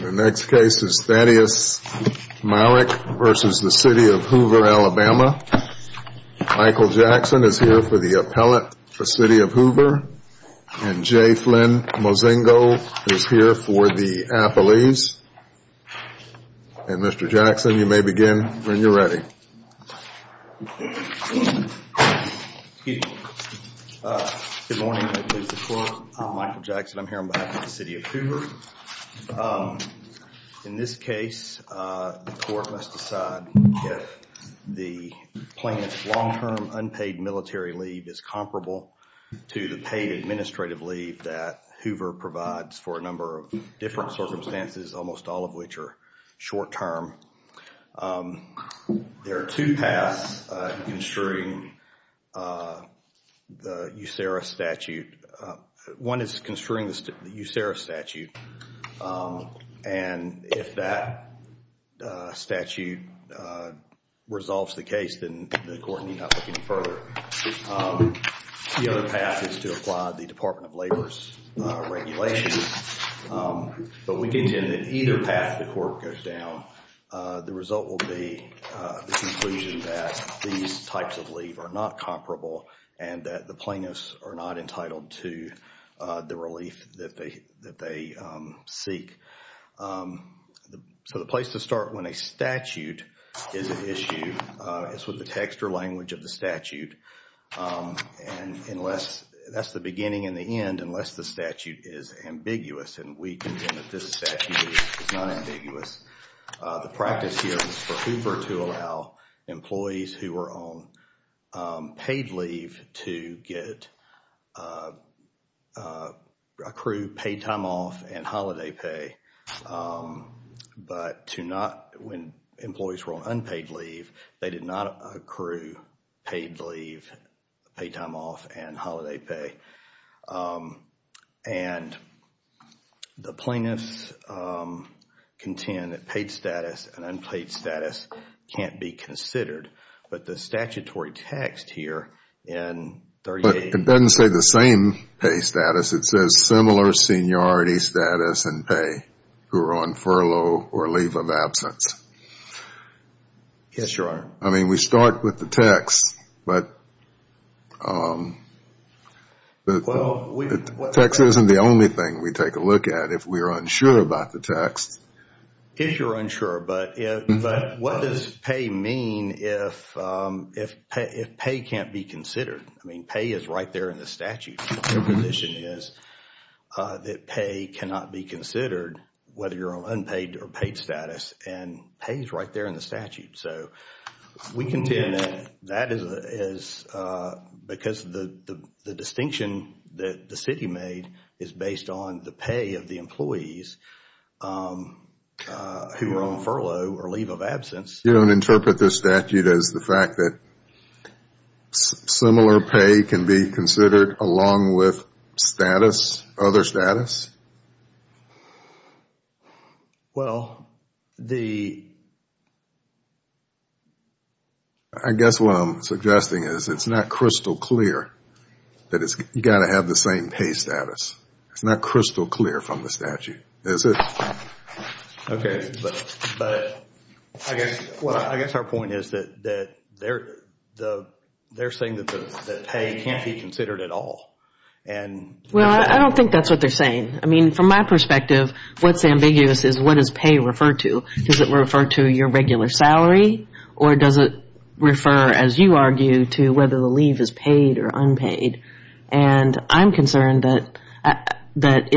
The next case is Thaddaeus Myrick v. City of Hoover, Alabama. Michael Jackson is here for the appellate for City of Hoover. And J. Flynn Mozingo is here for the appellees. And Mr. Jackson, you may begin when you're ready. Good morning, I'm Michael Jackson. I'm here on behalf of the City of Hoover. In this case, the court must decide if the plaintiff's long-term unpaid military leave is comparable to the paid administrative leave that Hoover provides for a number of different circumstances, almost all of which are short-term. There are two paths in construing the USERRA statute. One is construing the USERRA statute. And if that statute resolves the case, then the court need not look any further. The other path is to apply the Department of Labor's regulations. But we contend that either path the court goes down, the result will be the conclusion that these types of leave are not comparable and that the plaintiffs are not entitled to the relief that they seek. So the place to start when a statute is an issue is with the text or language of the statute. And unless that's the beginning and the end, unless the statute is employees who were on paid leave to get, accrue paid time off and holiday pay. But to not, when employees were on unpaid leave, they did not accrue paid leave, paid time off and holiday pay. And the plaintiffs contend that paid status and unpaid status can't be considered. But the statutory text here in 38... But it doesn't say the same pay status. It says similar seniority status and pay who are on furlough or leave of absence. Yes, Your Honor. I mean, we start with the text, but the text isn't the only thing we take a look at if we're unsure about the text. If you're unsure, but what does pay mean if pay can't be considered? I mean, pay is right there in the statute. Your position is that pay cannot be considered whether you're on unpaid or paid status. And pay is right there in the statute. So we contend that that is because the distinction that the city made is based on the pay of the who are on furlough or leave of absence. You don't interpret this statute as the fact that similar pay can be considered along with status, other status? Well, the... I guess what I'm suggesting is it's not crystal clear that it's got to have the same pay status. It's not crystal clear from the statute, is it? Okay. But I guess our point is that they're saying that pay can't be considered at all. And... Well, I don't think that's what they're saying. I mean, from my perspective, what's ambiguous is what is pay referred to? Does it refer to your regular salary or does it refer, as you argue, to whether the leave is paid or unpaid? And I'm concerned that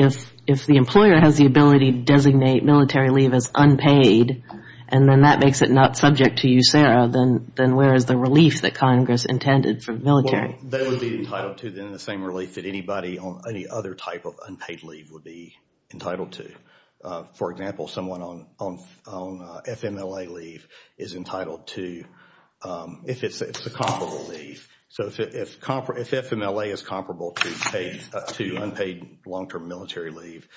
if the employer has the ability to designate military leave as unpaid and then that makes it not subject to you, Sarah, then where is the relief that Congress intended for military? They would be entitled to then the same relief that anybody on any other type of unpaid leave would be entitled to. For example, someone on FMLA leave is entitled to, if it's a comparable leave. So if FMLA is comparable to unpaid long-term military leave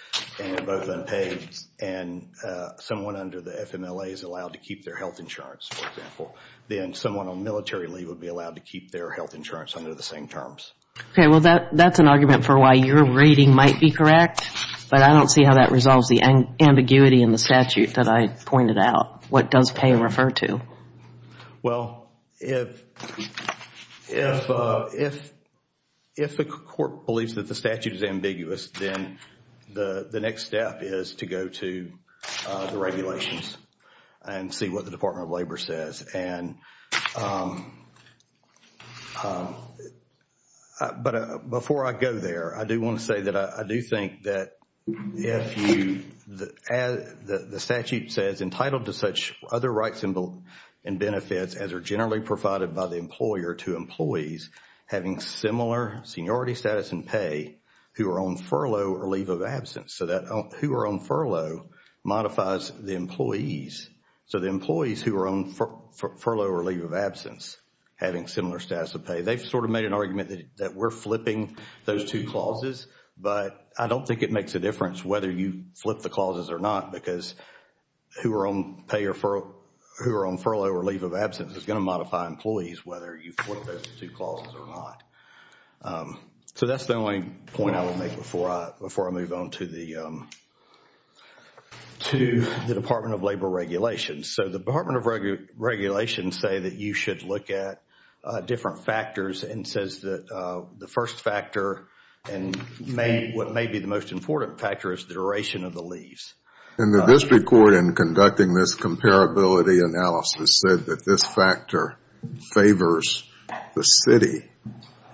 and both unpaid and someone under the FMLA is allowed to keep their health insurance, for example, then someone on military leave would be allowed to keep their health insurance under the same terms. Okay. Well, that's an argument for why your rating might be correct, but I don't see how that resolves the ambiguity in the statute that I pointed out. What does pay refer to? Well, if the court believes that the statute is ambiguous, then the next step is to go to the regulations and see what the Department of Labor says. But before I go there, I do want to say that I do think that if you, as the statute says, entitled to such other rights and benefits as are generally provided by the employer to employees having similar seniority status and pay who are on furlough or leave of absence. So that who are on furlough modifies the employees. So the employees who are on furlough or leave of absence having similar status of pay. They've sort of made an argument that we're flipping those two clauses, but I don't think it makes a difference whether you flip the clauses or not because who are on pay or who are on furlough or leave of absence is going to modify employees whether you flip those two clauses or not. So that's the only point I will make before I move on to the Department of Labor regulations. So the Department of Regulations say that you should look at different factors and says that the first factor and what may be the most important factor is the duration of the leaves. And the district court in conducting this comparability analysis said that this factor favors the city.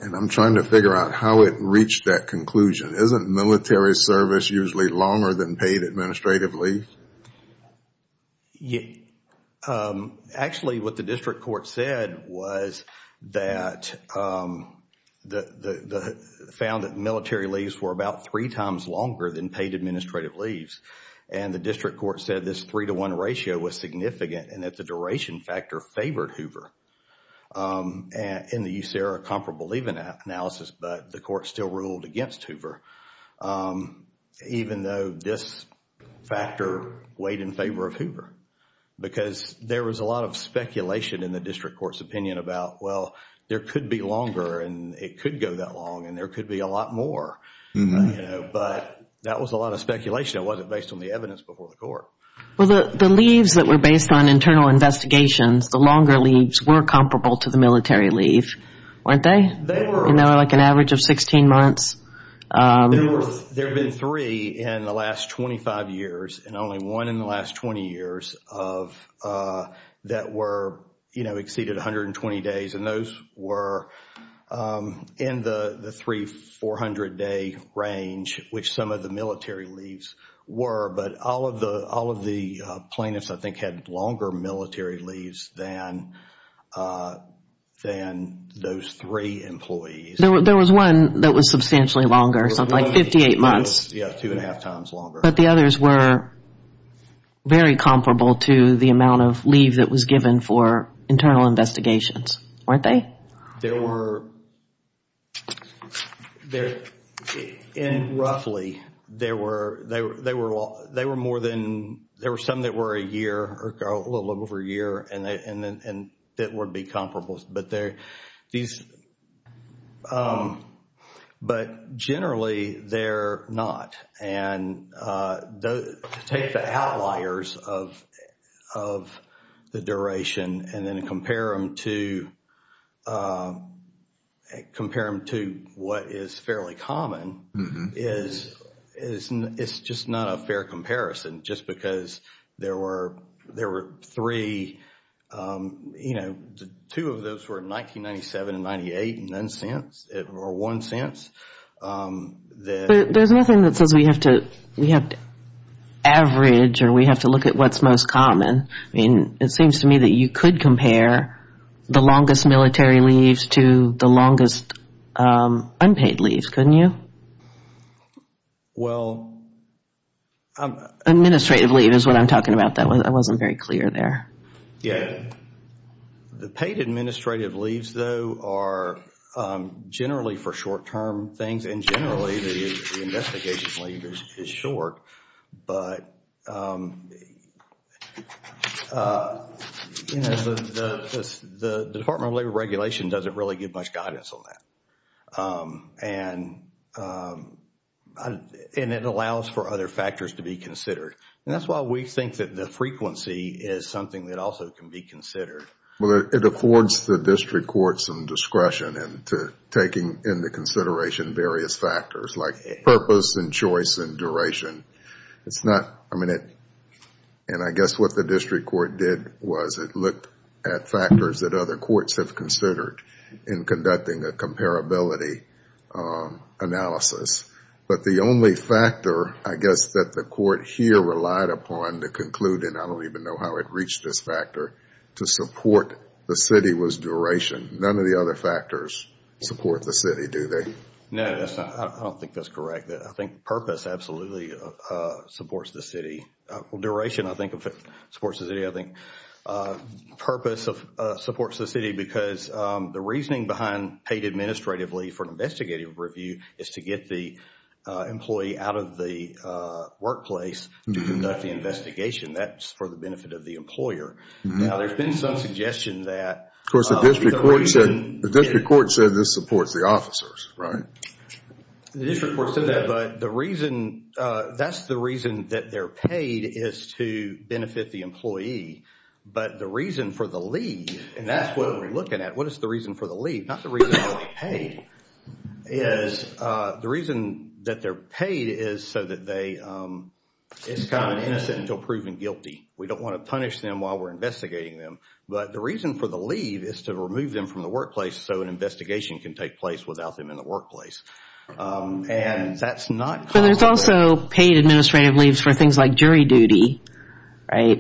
And I'm trying to figure out how it reached that conclusion. Isn't military service usually longer than paid administrative leave? Actually, what the district court said was that, found that military leaves were about three times longer than paid administrative leaves. And the district court said this three to one ratio was significant and that the duration factor favored Hoover in the USARA comparable leave analysis, but the court still ruled against Hoover. Even though this factor weighed in favor of Hoover because there was a lot of speculation in the district court's opinion about, well, there could be longer and it could go that long and there could be a lot more. But that was a lot of speculation. It wasn't based on the evidence before the court. Well, the leaves that were based on internal investigations, the longer leaves were comparable to the military leave, weren't they? You know, like an average of 16 months. There have been three in the last 25 years and only one in the last 20 years that were, you know, exceeded 120 days. And those were in the three 400 day range, which some of the military leaves were. But all of the plaintiffs, I think, had longer military leaves than those three employees. There was one that was substantially longer, something like 58 months. Yeah, two and a half times longer. But the others were very comparable to the amount of leave that was given for internal investigations, weren't they? There were, roughly, there were some that were a year or a little over a year and that would be comparable. But generally, they're not. And take the outliers of the duration and then compare them to what is fairly common. It's just not a fair comparison just because there were three, you know, two of those were in 1997 and 98 and then since, or one since. But there's nothing that says we have to average or we have to look at what's most common. I mean, it seems to me that you could compare the longest military leaves to the longest unpaid leave, couldn't you? Administrative leave is what I'm talking about. I wasn't very clear there. Yeah. The paid administrative leaves, though, are generally for short term things and generally the investigation leave is short. But you know, the Department of Labor regulation doesn't really give much guidance on that. And it allows for other factors to be considered. And that's why we think that the frequency is something that also can be considered. Well, it affords the district courts some discretion into taking into consideration various factors like purpose and choice and duration. It's not, I mean, and I guess what the district court did was it looked at factors that other courts have considered in conducting a comparability analysis. But the only factor, I guess, that the court here relied upon to conclude, and I don't even know how it reached this factor, to support the city was duration. None of the other factors support the city, do they? No, I don't think that's correct. I think purpose absolutely supports the city. Well, duration I think supports the city. I think purpose supports the city because the reasoning behind paid administrative leave for an investigative review is to get the employee out of the workplace to conduct the investigation. That's for the benefit of the employer. Now, there's been some suggestion that... Of course, the district court said this supports the officers, right? The district court said that, but the reason, that's the reason that they're paid is to benefit the employee. But the reason for the leave, and that's what we're looking at. What is the reason for the leave? Not the reason why they're paid. The reason that they're paid is so that they, it's kind of innocent until proven guilty. We don't want to punish them while we're investigating them. But the reason for the leave is to remove them from the workplace so an investigation can take place without them in the workplace. And that's not... But there's also paid administrative leaves for things like jury duty,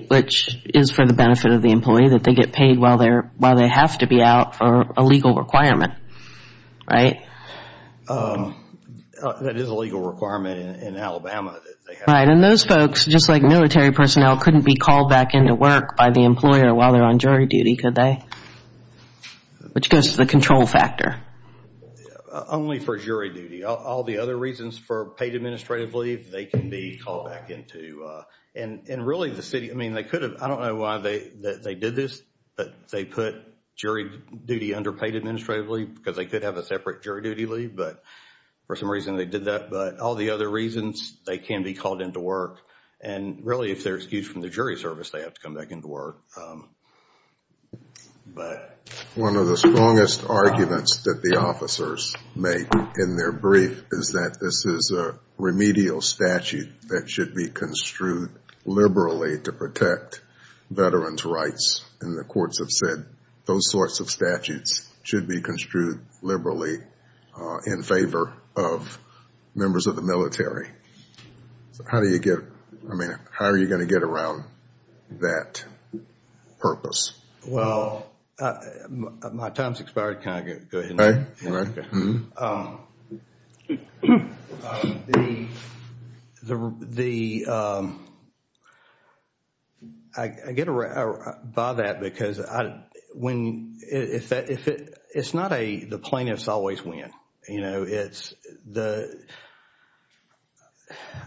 which is for the benefit of the employee that they get paid while they're, while they have to be out for a legal requirement, right? That is a legal requirement in Alabama. Right, and those folks, just like military personnel, couldn't be called back into work by the employer while they're on jury duty, could they? Which goes to the control factor. Only for jury duty. All the other reasons for paid administrative leave, they can be called back into, and really the city, I mean they could have, I don't know why they did this, but they put jury duty under paid administrative leave because they could have a separate jury duty leave, but for some reason they did that. But all the other reasons, they can be called into work. And really if they're excused from the jury service, they have to come back into work. One of the strongest arguments that the officers make in their brief is that this is a remedial statute that should be construed liberally to protect veterans' rights. And the courts have said those sorts of statutes should be construed liberally in favor of members of the military. So how do you get, I mean, how are you going to get around that purpose? Well, my time's expired. Can I go ahead? Go ahead. Okay. I get by that because when, it's not a, the plaintiffs always win. You know, it's the,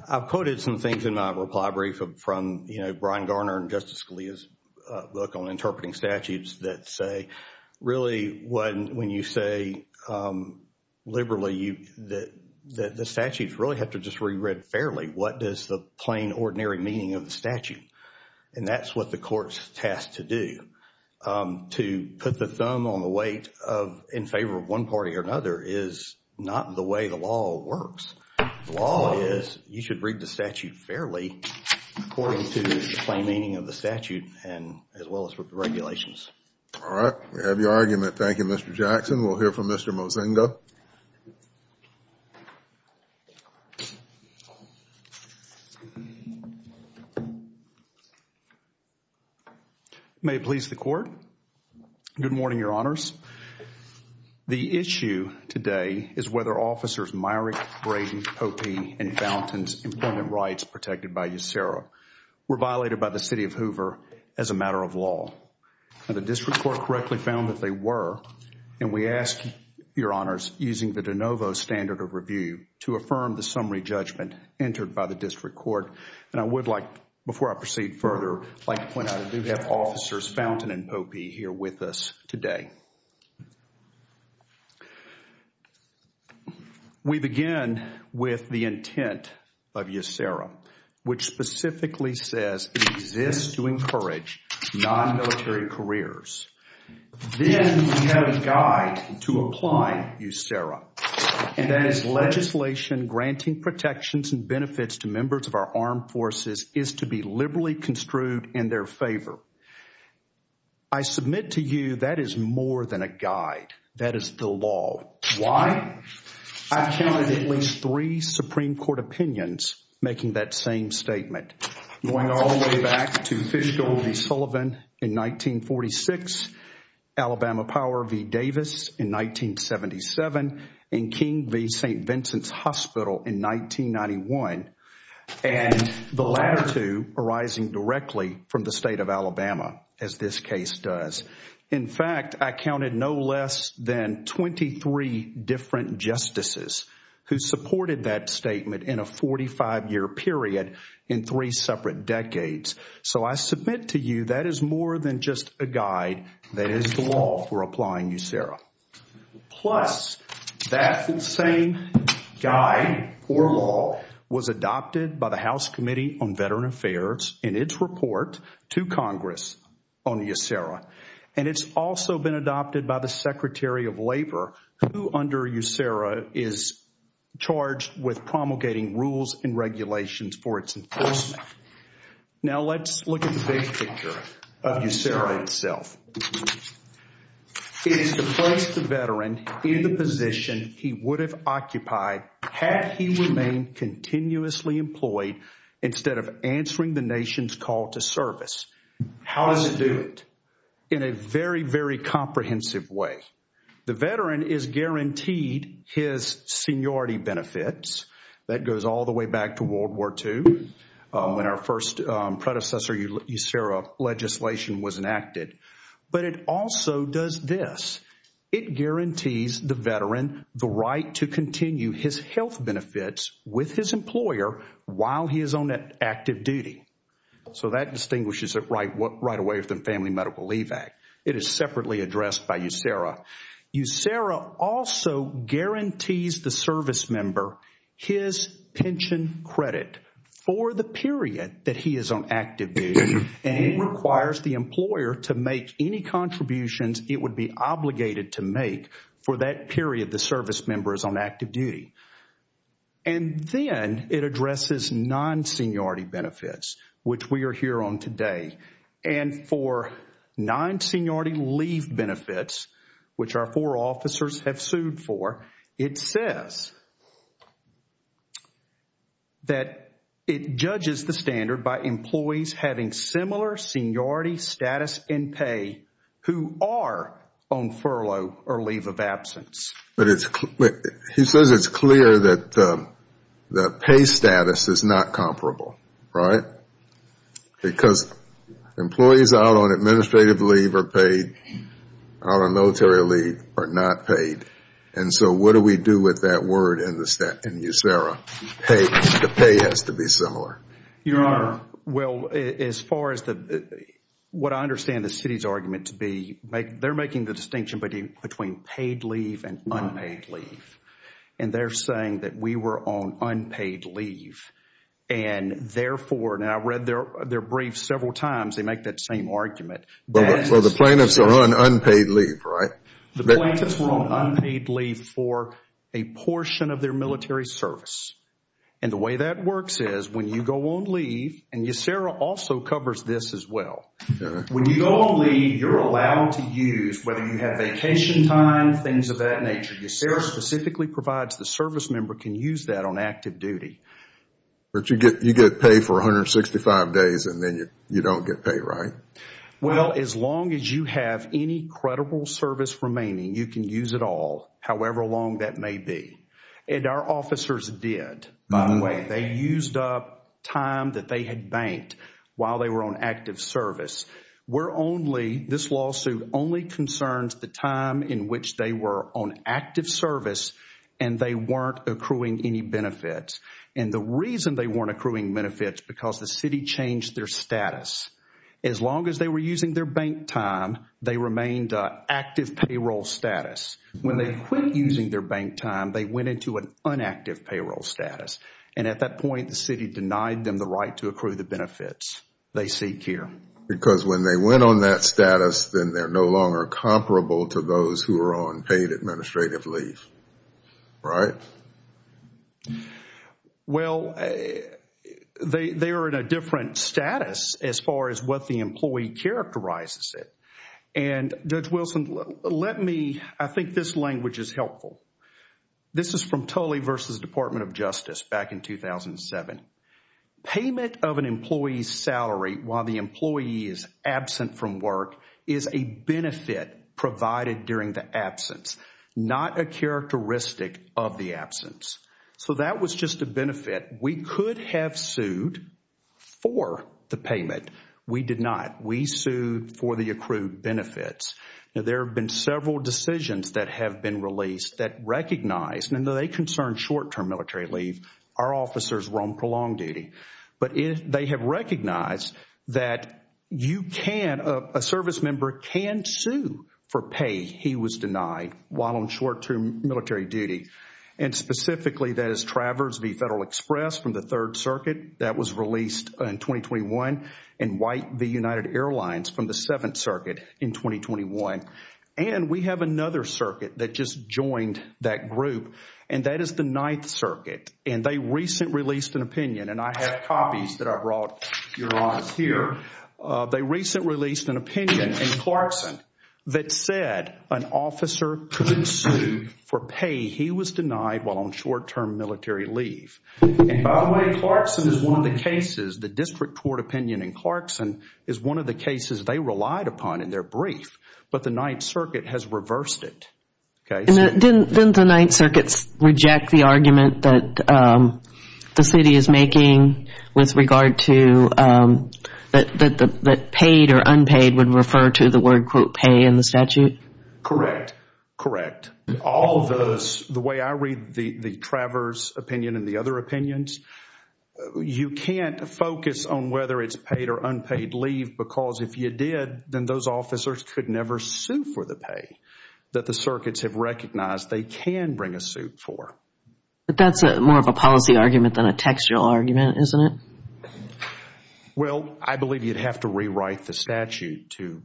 I've quoted some things in my reply brief from, you know, Brian Garner and Justice Scalia's book on interpreting statutes that say really when you say liberally that the statutes really have to just be read fairly. What does the plain, ordinary meaning of the statute? And that's what the courts tasked to do. To put the thumb on the weight of in favor of one party or another is not the way the law works. The law is you should read the statute fairly according to the plain meaning of the statute and as well as the regulations. All right. We have your argument. Thank you, Mr. Jackson. We'll hear from Mr. Mozingo. May it please the court. Good morning, your honors. The issue today is whether officers Myrick, Braden, Popey, and Fountain's employment rights protected by USERRA were violated by the city of Hoover as a matter of law. Now, the district court correctly found that they were and we ask your honors using the de novo standard of review to affirm the summary judgment entered by the district court. And I would like, before I proceed further, I'd like to point out I do have Fountain and Popey here with us today. We begin with the intent of USERRA, which specifically says it exists to encourage non-military careers. Then we have a guide to apply USERRA and that is legislation granting protections and benefits to members of our armed forces is to be liberally construed in their favor. I submit to you that is more than a guide. That is the law. Why? I counted at least three Supreme Court opinions making that same statement. Going all the way back to Fishgold v. Sullivan in 1946, Alabama Power v. Davis in 1977, and King v. St. Vincent's Hospital in 1991, and the latter two arising directly from the state of Alabama as this case does. In fact, I counted no less than 23 different justices who supported that statement in a 45-year period in three separate decades. So I submit to you that is more than just a guide. That is the law for applying USERRA. Plus, that same guide or law was adopted by the House Committee on Veteran Affairs in its report to Congress on USERRA. And it's also been adopted by the Secretary of Labor who under USERRA is charged with promulgating rules and regulations for its enforcement. Now let's look at the big picture of USERRA itself. It is to place the veteran in the position he would have occupied had he remained continuously employed instead of answering the nation's call to service. How does it do it? In a very, very comprehensive way. The veteran is our first predecessor USERRA legislation was enacted. But it also does this. It guarantees the veteran the right to continue his health benefits with his employer while he is on active duty. So that distinguishes it right away from the Family Medical Leave Act. It is separately that he is on active duty and it requires the employer to make any contributions it would be obligated to make for that period the service member is on active duty. And then it addresses non-seniority benefits, which we are here on today. And for non-seniority leave benefits, which our four officers have sued for, it says that it judges the standard by employees having similar seniority status in pay who are on furlough or leave of absence. But he says it's clear that the pay status is not comparable, right? Because employees out on administrative leave are paid, out on military leave are not paid. And so what do we do with that word in USERRA? The pay has to be similar. Your Honor, well, as far as what I understand the city's argument to be, they're making the distinction between paid leave and unpaid leave. And they're saying that we were on unpaid leave. And therefore, and I've read their brief several times, they make that same argument. Well, the plaintiffs are on unpaid leave, right? The plaintiffs were on unpaid leave for a portion of their military service. And the way that works is when you go on leave, and USERRA also covers this as well. When you go on leave, you're allowed to use, whether you have vacation time, things of that nature. USERRA specifically provides the service member can use that on active duty. But you get paid for 165 days and then you don't get paid, right? Well, as long as you have any credible service remaining, you can use it all, however long that may be. And our officers did, by the way. They used up time that they had banked while they were on active service. We're only, this lawsuit only concerns the time in which they were on active service and they weren't accruing any benefits. And the reason they weren't accruing benefits, because the city changed their status. As long as they were using their bank time, they remained active payroll status. When they quit using their bank time, they went into an inactive payroll status. And at that point, the city denied them the right to accrue the benefits they seek here. Because when they went on that status, then they're no longer comparable to those who are on paid administrative leave, right? Well, they are in a different status as far as what the employee characterizes it. And Judge Wilson, let me, I think this language is helpful. This is from Tully versus Department of Justice back in 2007. Payment of an employee's salary while the employee is absent from work is a benefit provided during the absence, not a characteristic of the absence. So that was just a benefit. We could have sued for the payment. We did not. We sued for the accrued benefits. Now, there have been several decisions that have been released that recognize, and though they concern short-term military leave, our officers roam prolonged duty. But they have recognized that you can, a service member can sue for pay he was denied while on short-term military duty. And specifically, that is Traverse v. Federal Express from the Third Circuit that was released in 2021, and White v. United Airlines from the Seventh Circuit in 2021. And we have another circuit that just joined that group, and that is the Ninth Circuit. And they recently released an opinion, and I have copies that I brought your honors here. They recently released an opinion in Clarkson that said an officer could sue for pay he was denied while on short-term military leave. And by the way, Clarkson is one of the cases, the district court opinion in Clarkson is one of the cases they relied upon in their brief, but the Ninth Circuit has reversed it. Okay. Didn't the Ninth Circuit reject the argument that the city is making with regard to that paid or unpaid would refer to the word, quote, pay in the statute? Correct. Correct. All of those, the way I read the Traverse opinion and the other opinions, you can't focus on whether it's paid or unpaid leave, because if you did, then those officers could never sue for the pay that the circuits have recognized they can bring a suit for. But that's more of a policy argument than a textual argument, isn't it? Well, I believe you'd have to rewrite the statute to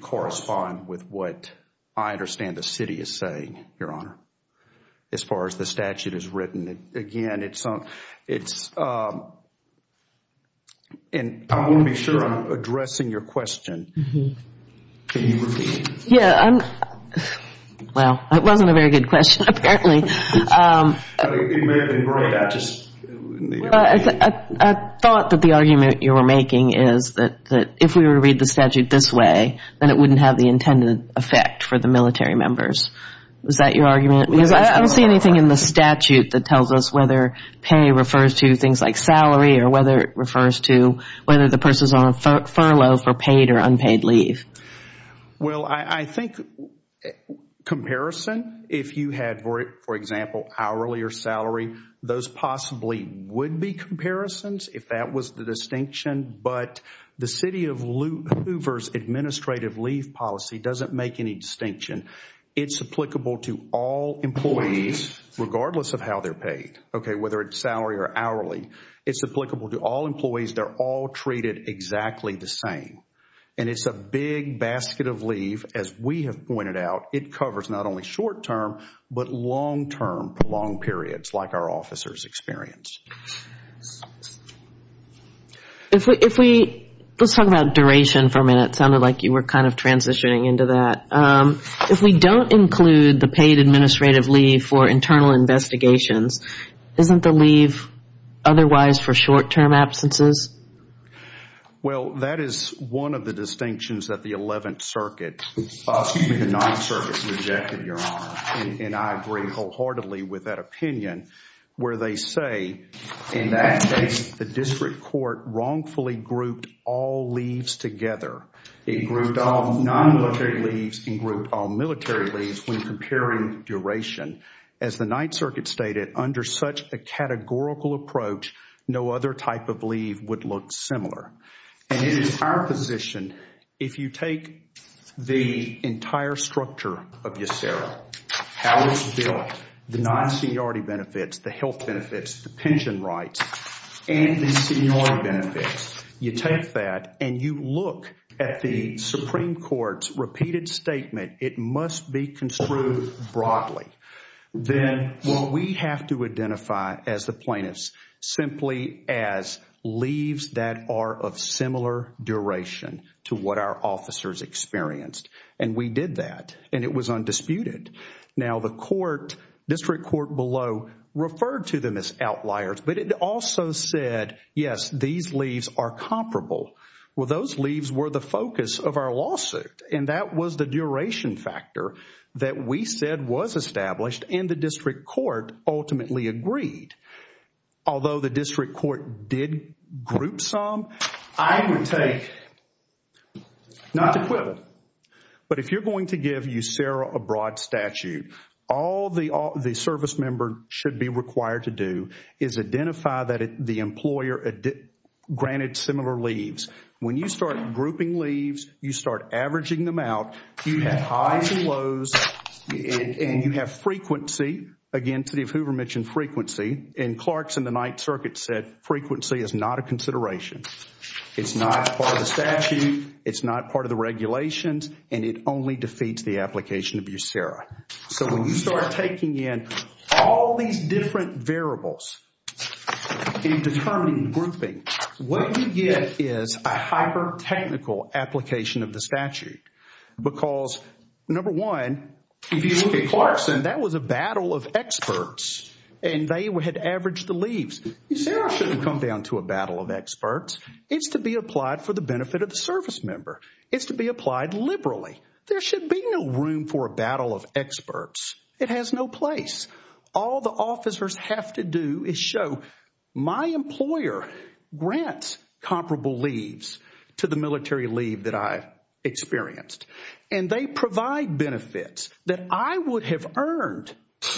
correspond with what I understand the city is saying, your honor, as far as the statute is written. Again, it's, and I want to be sure I'm addressing your question. Can you repeat it? Yeah. Well, it wasn't a very good question, apparently. I thought that the argument you were making is that if we were to read the statute this way, then it wouldn't have the intended effect for the military members. Was that your argument? Because I don't see anything in the statute that tells us whether pay refers to things like salary or whether it refers to whether the person's on furlough for paid or unpaid leave. Well, I think comparison, if you had, for example, hourly or salary, those possibly would be comparisons if that was the distinction. But the city of Hoover's administrative leave policy doesn't make any distinction. It's applicable to all employees, regardless of how they're paid, okay, whether it's salary or hourly. It's applicable to all employees. They're all treated exactly the same. And it's a big basket of leave, as we have pointed out. It covers not only short-term, but long-term, prolonged periods, like our officers experience. If we, let's talk about duration for a minute. It sounded like you were kind of transitioning into that. If we don't include the paid administrative leave for internal investigations, isn't the leave otherwise for short-term absences? Well, that is one of the distinctions that the 11th Circuit, excuse me, the 9th Circuit rejected, Your Honor. And I agree wholeheartedly with that opinion, where they say, in that case, the district court wrongfully grouped all leaves together. It grouped all non-military leaves and grouped all military leaves when comparing duration. As the 9th Circuit stated, under such a categorical approach, no other type of leave would look similar. And it is our position, if you take the entire structure of Yesera, how it's built, the non-seniority benefits, the health benefits, the pension rights, and the seniority benefits, you take that and you look at the Supreme Court's repeated statement, it must be construed broadly. Then, what we have to identify as the plaintiffs, simply as leaves that are of similar duration to what our officers experienced. And we did that, and it was undisputed. Now, the court, district court below, referred to them as outliers, but it also said, yes, these leaves are comparable. Well, those leaves were the focus of our lawsuit, and that was the duration factor that we said was established, and the district court ultimately agreed. Although the district court did group some, I would take not equivalent. But if you're going to give Yesera a broad statute, all the service member should be required to do is identify that the employer granted similar leaves. When you start grouping leaves, you start averaging them out, you have highs and lows, and you have frequency. Again, City of Hoover mentioned frequency, and Clark's and the 9th Circuit said frequency is not a and it only defeats the application of Yesera. So when you start taking in all these different variables in determining grouping, what you get is a hyper-technical application of the statute. Because number one, if you look at Clarkson, that was a battle of experts, and they had averaged the leaves. Yesera shouldn't come down to a battle of experts. It's to be applied for the benefit of the service member. It's to be applied liberally. There should be no room for a battle of experts. It has no place. All the officers have to do is show my employer grants comparable leaves to the military leave that I've experienced, and they provide benefits that I would have earned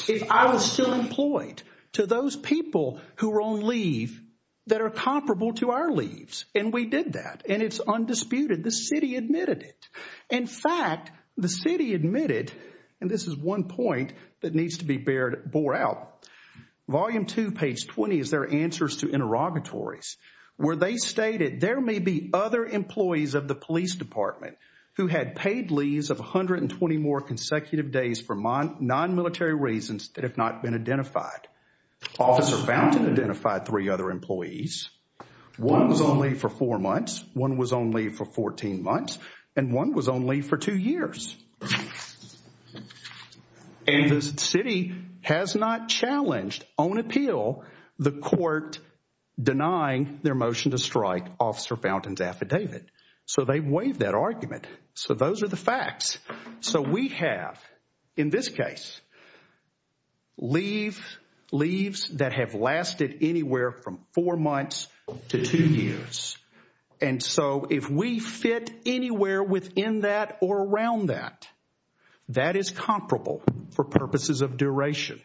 if I was still employed to those people who were on leave that are comparable to our leaves, and we did that, and it's undisputed. The city admitted it. In fact, the city admitted, and this is one point that needs to be bore out. Volume 2, page 20 is their answers to interrogatories, where they stated, there may be other employees of the police department who had paid leaves of 120 more to identify three other employees. One was on leave for four months, one was on leave for 14 months, and one was on leave for two years. And the city has not challenged on appeal the court denying their motion to strike Officer Fountain's affidavit. So they waived that argument. So those are the facts. So we have, in this case, leaves that have lasted anywhere from four months to two years, and so if we fit anywhere within that or around that, that is comparable for purposes of duration.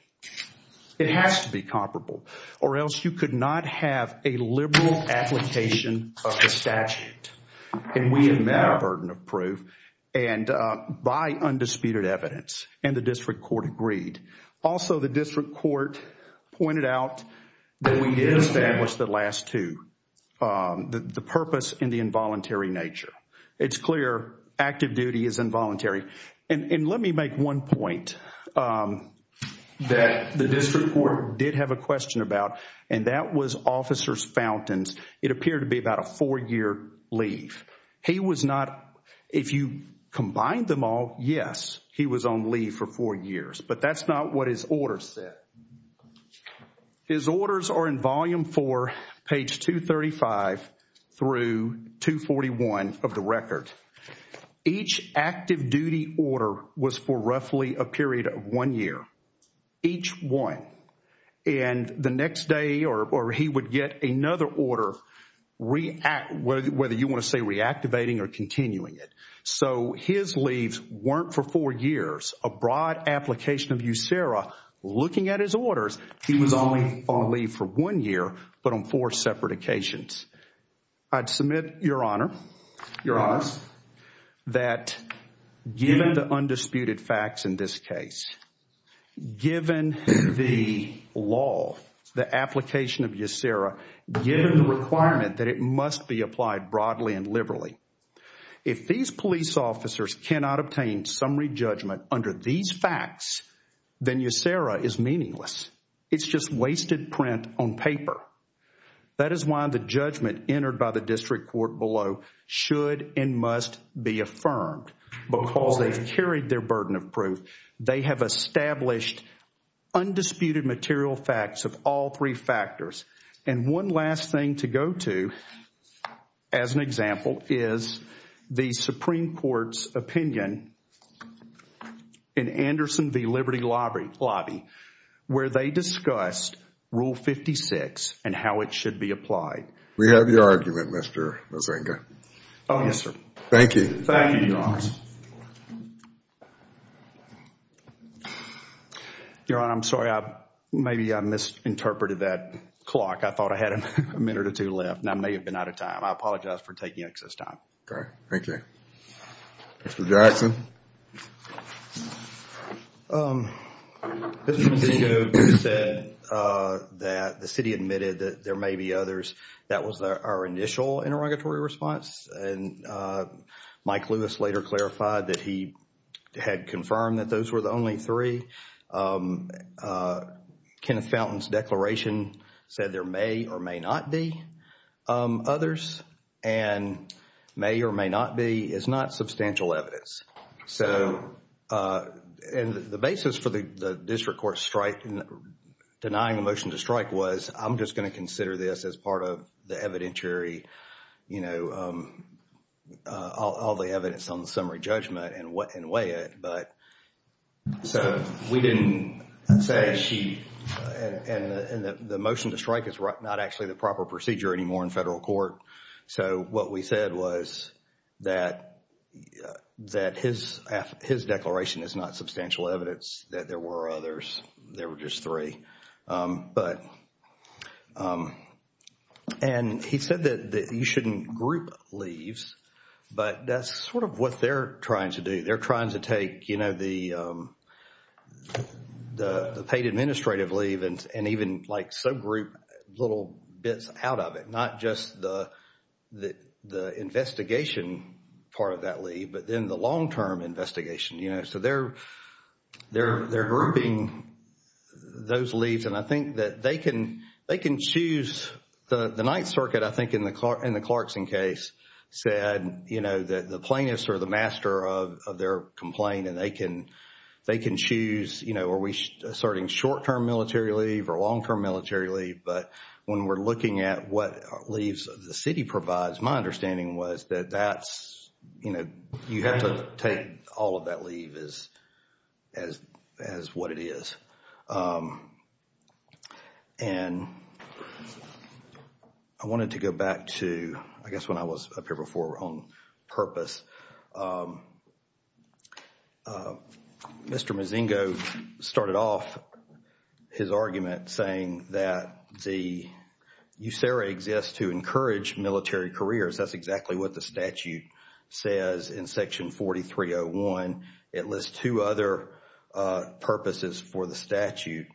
It has to be comparable, or else you could not have a liberal application of the statute, and we admit a burden of proof, and by undisputed evidence, and the district court agreed. Also, the district court pointed out that we did establish the last two, the purpose and the involuntary nature. It's clear active duty is involuntary, and let me make one point that the district court did have a question about, and that was Officer Fountain's, it appeared to be about a four-year leave. He was not, if you combine them all, yes, he was on leave for four years, but that's not what his order said. His orders are in volume four, page 235 through 241 of the record. Each active duty order was for roughly a period of one year, each one, and the next day, or he would get another order, whether you want to say reactivating or continuing it. So his leaves weren't for four years. A broad application of USERA, looking at his orders, he was only on leave for one year, but on four occasions. I'd submit, Your Honor, that given the undisputed facts in this case, given the law, the application of USERA, given the requirement that it must be applied broadly and liberally, if these police officers cannot obtain summary judgment under these facts, then USERA is meaningless. It's just wasted print on paper. That is why the judgment entered by the district court below should and must be affirmed because they've carried their burden of proof. They have established undisputed material facts of all three factors, and one last thing to go to as an example is the Supreme Court's opinion in Anderson v. Liberty Lobby, where they discussed Rule 56 and how it should be applied. We have your argument, Mr. Mozenga. Oh, yes, sir. Thank you. Thank you, Your Honor. Your Honor, I'm sorry. Maybe I misinterpreted that clock. I thought I had a minute or two left, and I may have been out of time. I apologize for taking excess time. Okay. Thank you. Mr. Jackson. Mr. Mozenga said that the city admitted that there may be others. That was our initial interrogatory response, and Mike Lewis later clarified that he had confirmed that those were the only three. Kenneth Fountain's declaration said there may or may not be others, and may or may not be is not substantial evidence. So, and the basis for the district court strike, denying the motion to strike was, I'm just going to consider this as part of the evidentiary, you know, all the evidence on the summary judgment and weigh it, but so we didn't say she, and the motion to strike is not actually the proper procedure anymore in federal court. So, what we said was that his declaration is not substantial evidence that there were others. There were just three. But, and he said that you shouldn't group leaves, but that's sort of what they're trying to do. They're trying to take, you know, the paid administrative leave and even like subgroup little bits out of it, not just the investigation part of that leave, but then the those leaves. And I think that they can, they can choose the Ninth Circuit, I think in the Clarkson case said, you know, that the plaintiffs are the master of their complaint and they can, they can choose, you know, are we asserting short-term military leave or long-term military leave? But when we're looking at what leaves the city provides, my understanding was that that's, you know, you have to take all of that leave as, as, as what it is. And I wanted to go back to, I guess, when I was up here before on purpose. Mr. Mozingo started off his argument saying that the USERA exists to encourage military careers. That's exactly what the statute says in Section 4301. It lists two other purposes for the statute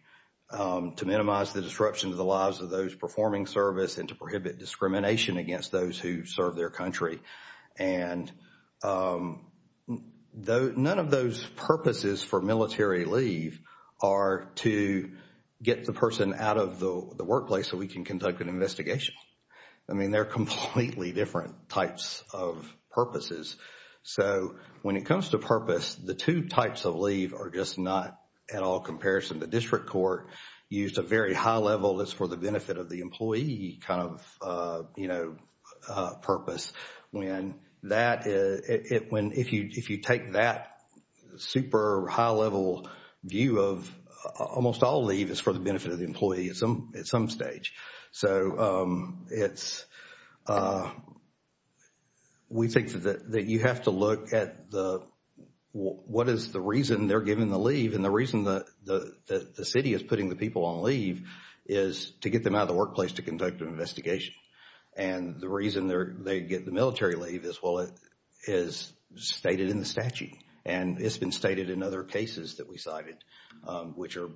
to minimize the disruption to the lives of those performing service and to prohibit discrimination against those who serve their country. And none of those purposes for military leave are to get the person out of the workplace so we can conduct an investigation. I mean, they're completely different types of purposes. So when it comes to purpose, the two types of leave are just not at all comparison. The district court used a very high level that's for the benefit of the employee kind of, you know, purpose. When that, it, when, if you, if you take that super high level view of almost all leave is for the benefit of the employee at some, at some stage. So it's, we think that you have to look at the, what is the reason they're giving the leave and the reason that the city is putting the people on leave is to get them out of the workplace to conduct an investigation. And the reason they're, they get the military leave is, well, it is stated in the statute. And it's been stated in other cases that we cited which are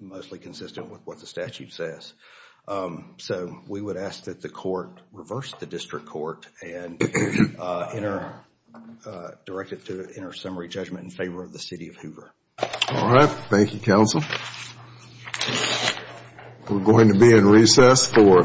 mostly consistent with what the statute says. So we would ask that the court reverse the district court and enter, direct it to enter summary judgment in favor of the city of Hoover. All right. Thank you, counsel. We're going to be in recess for 15 minutes.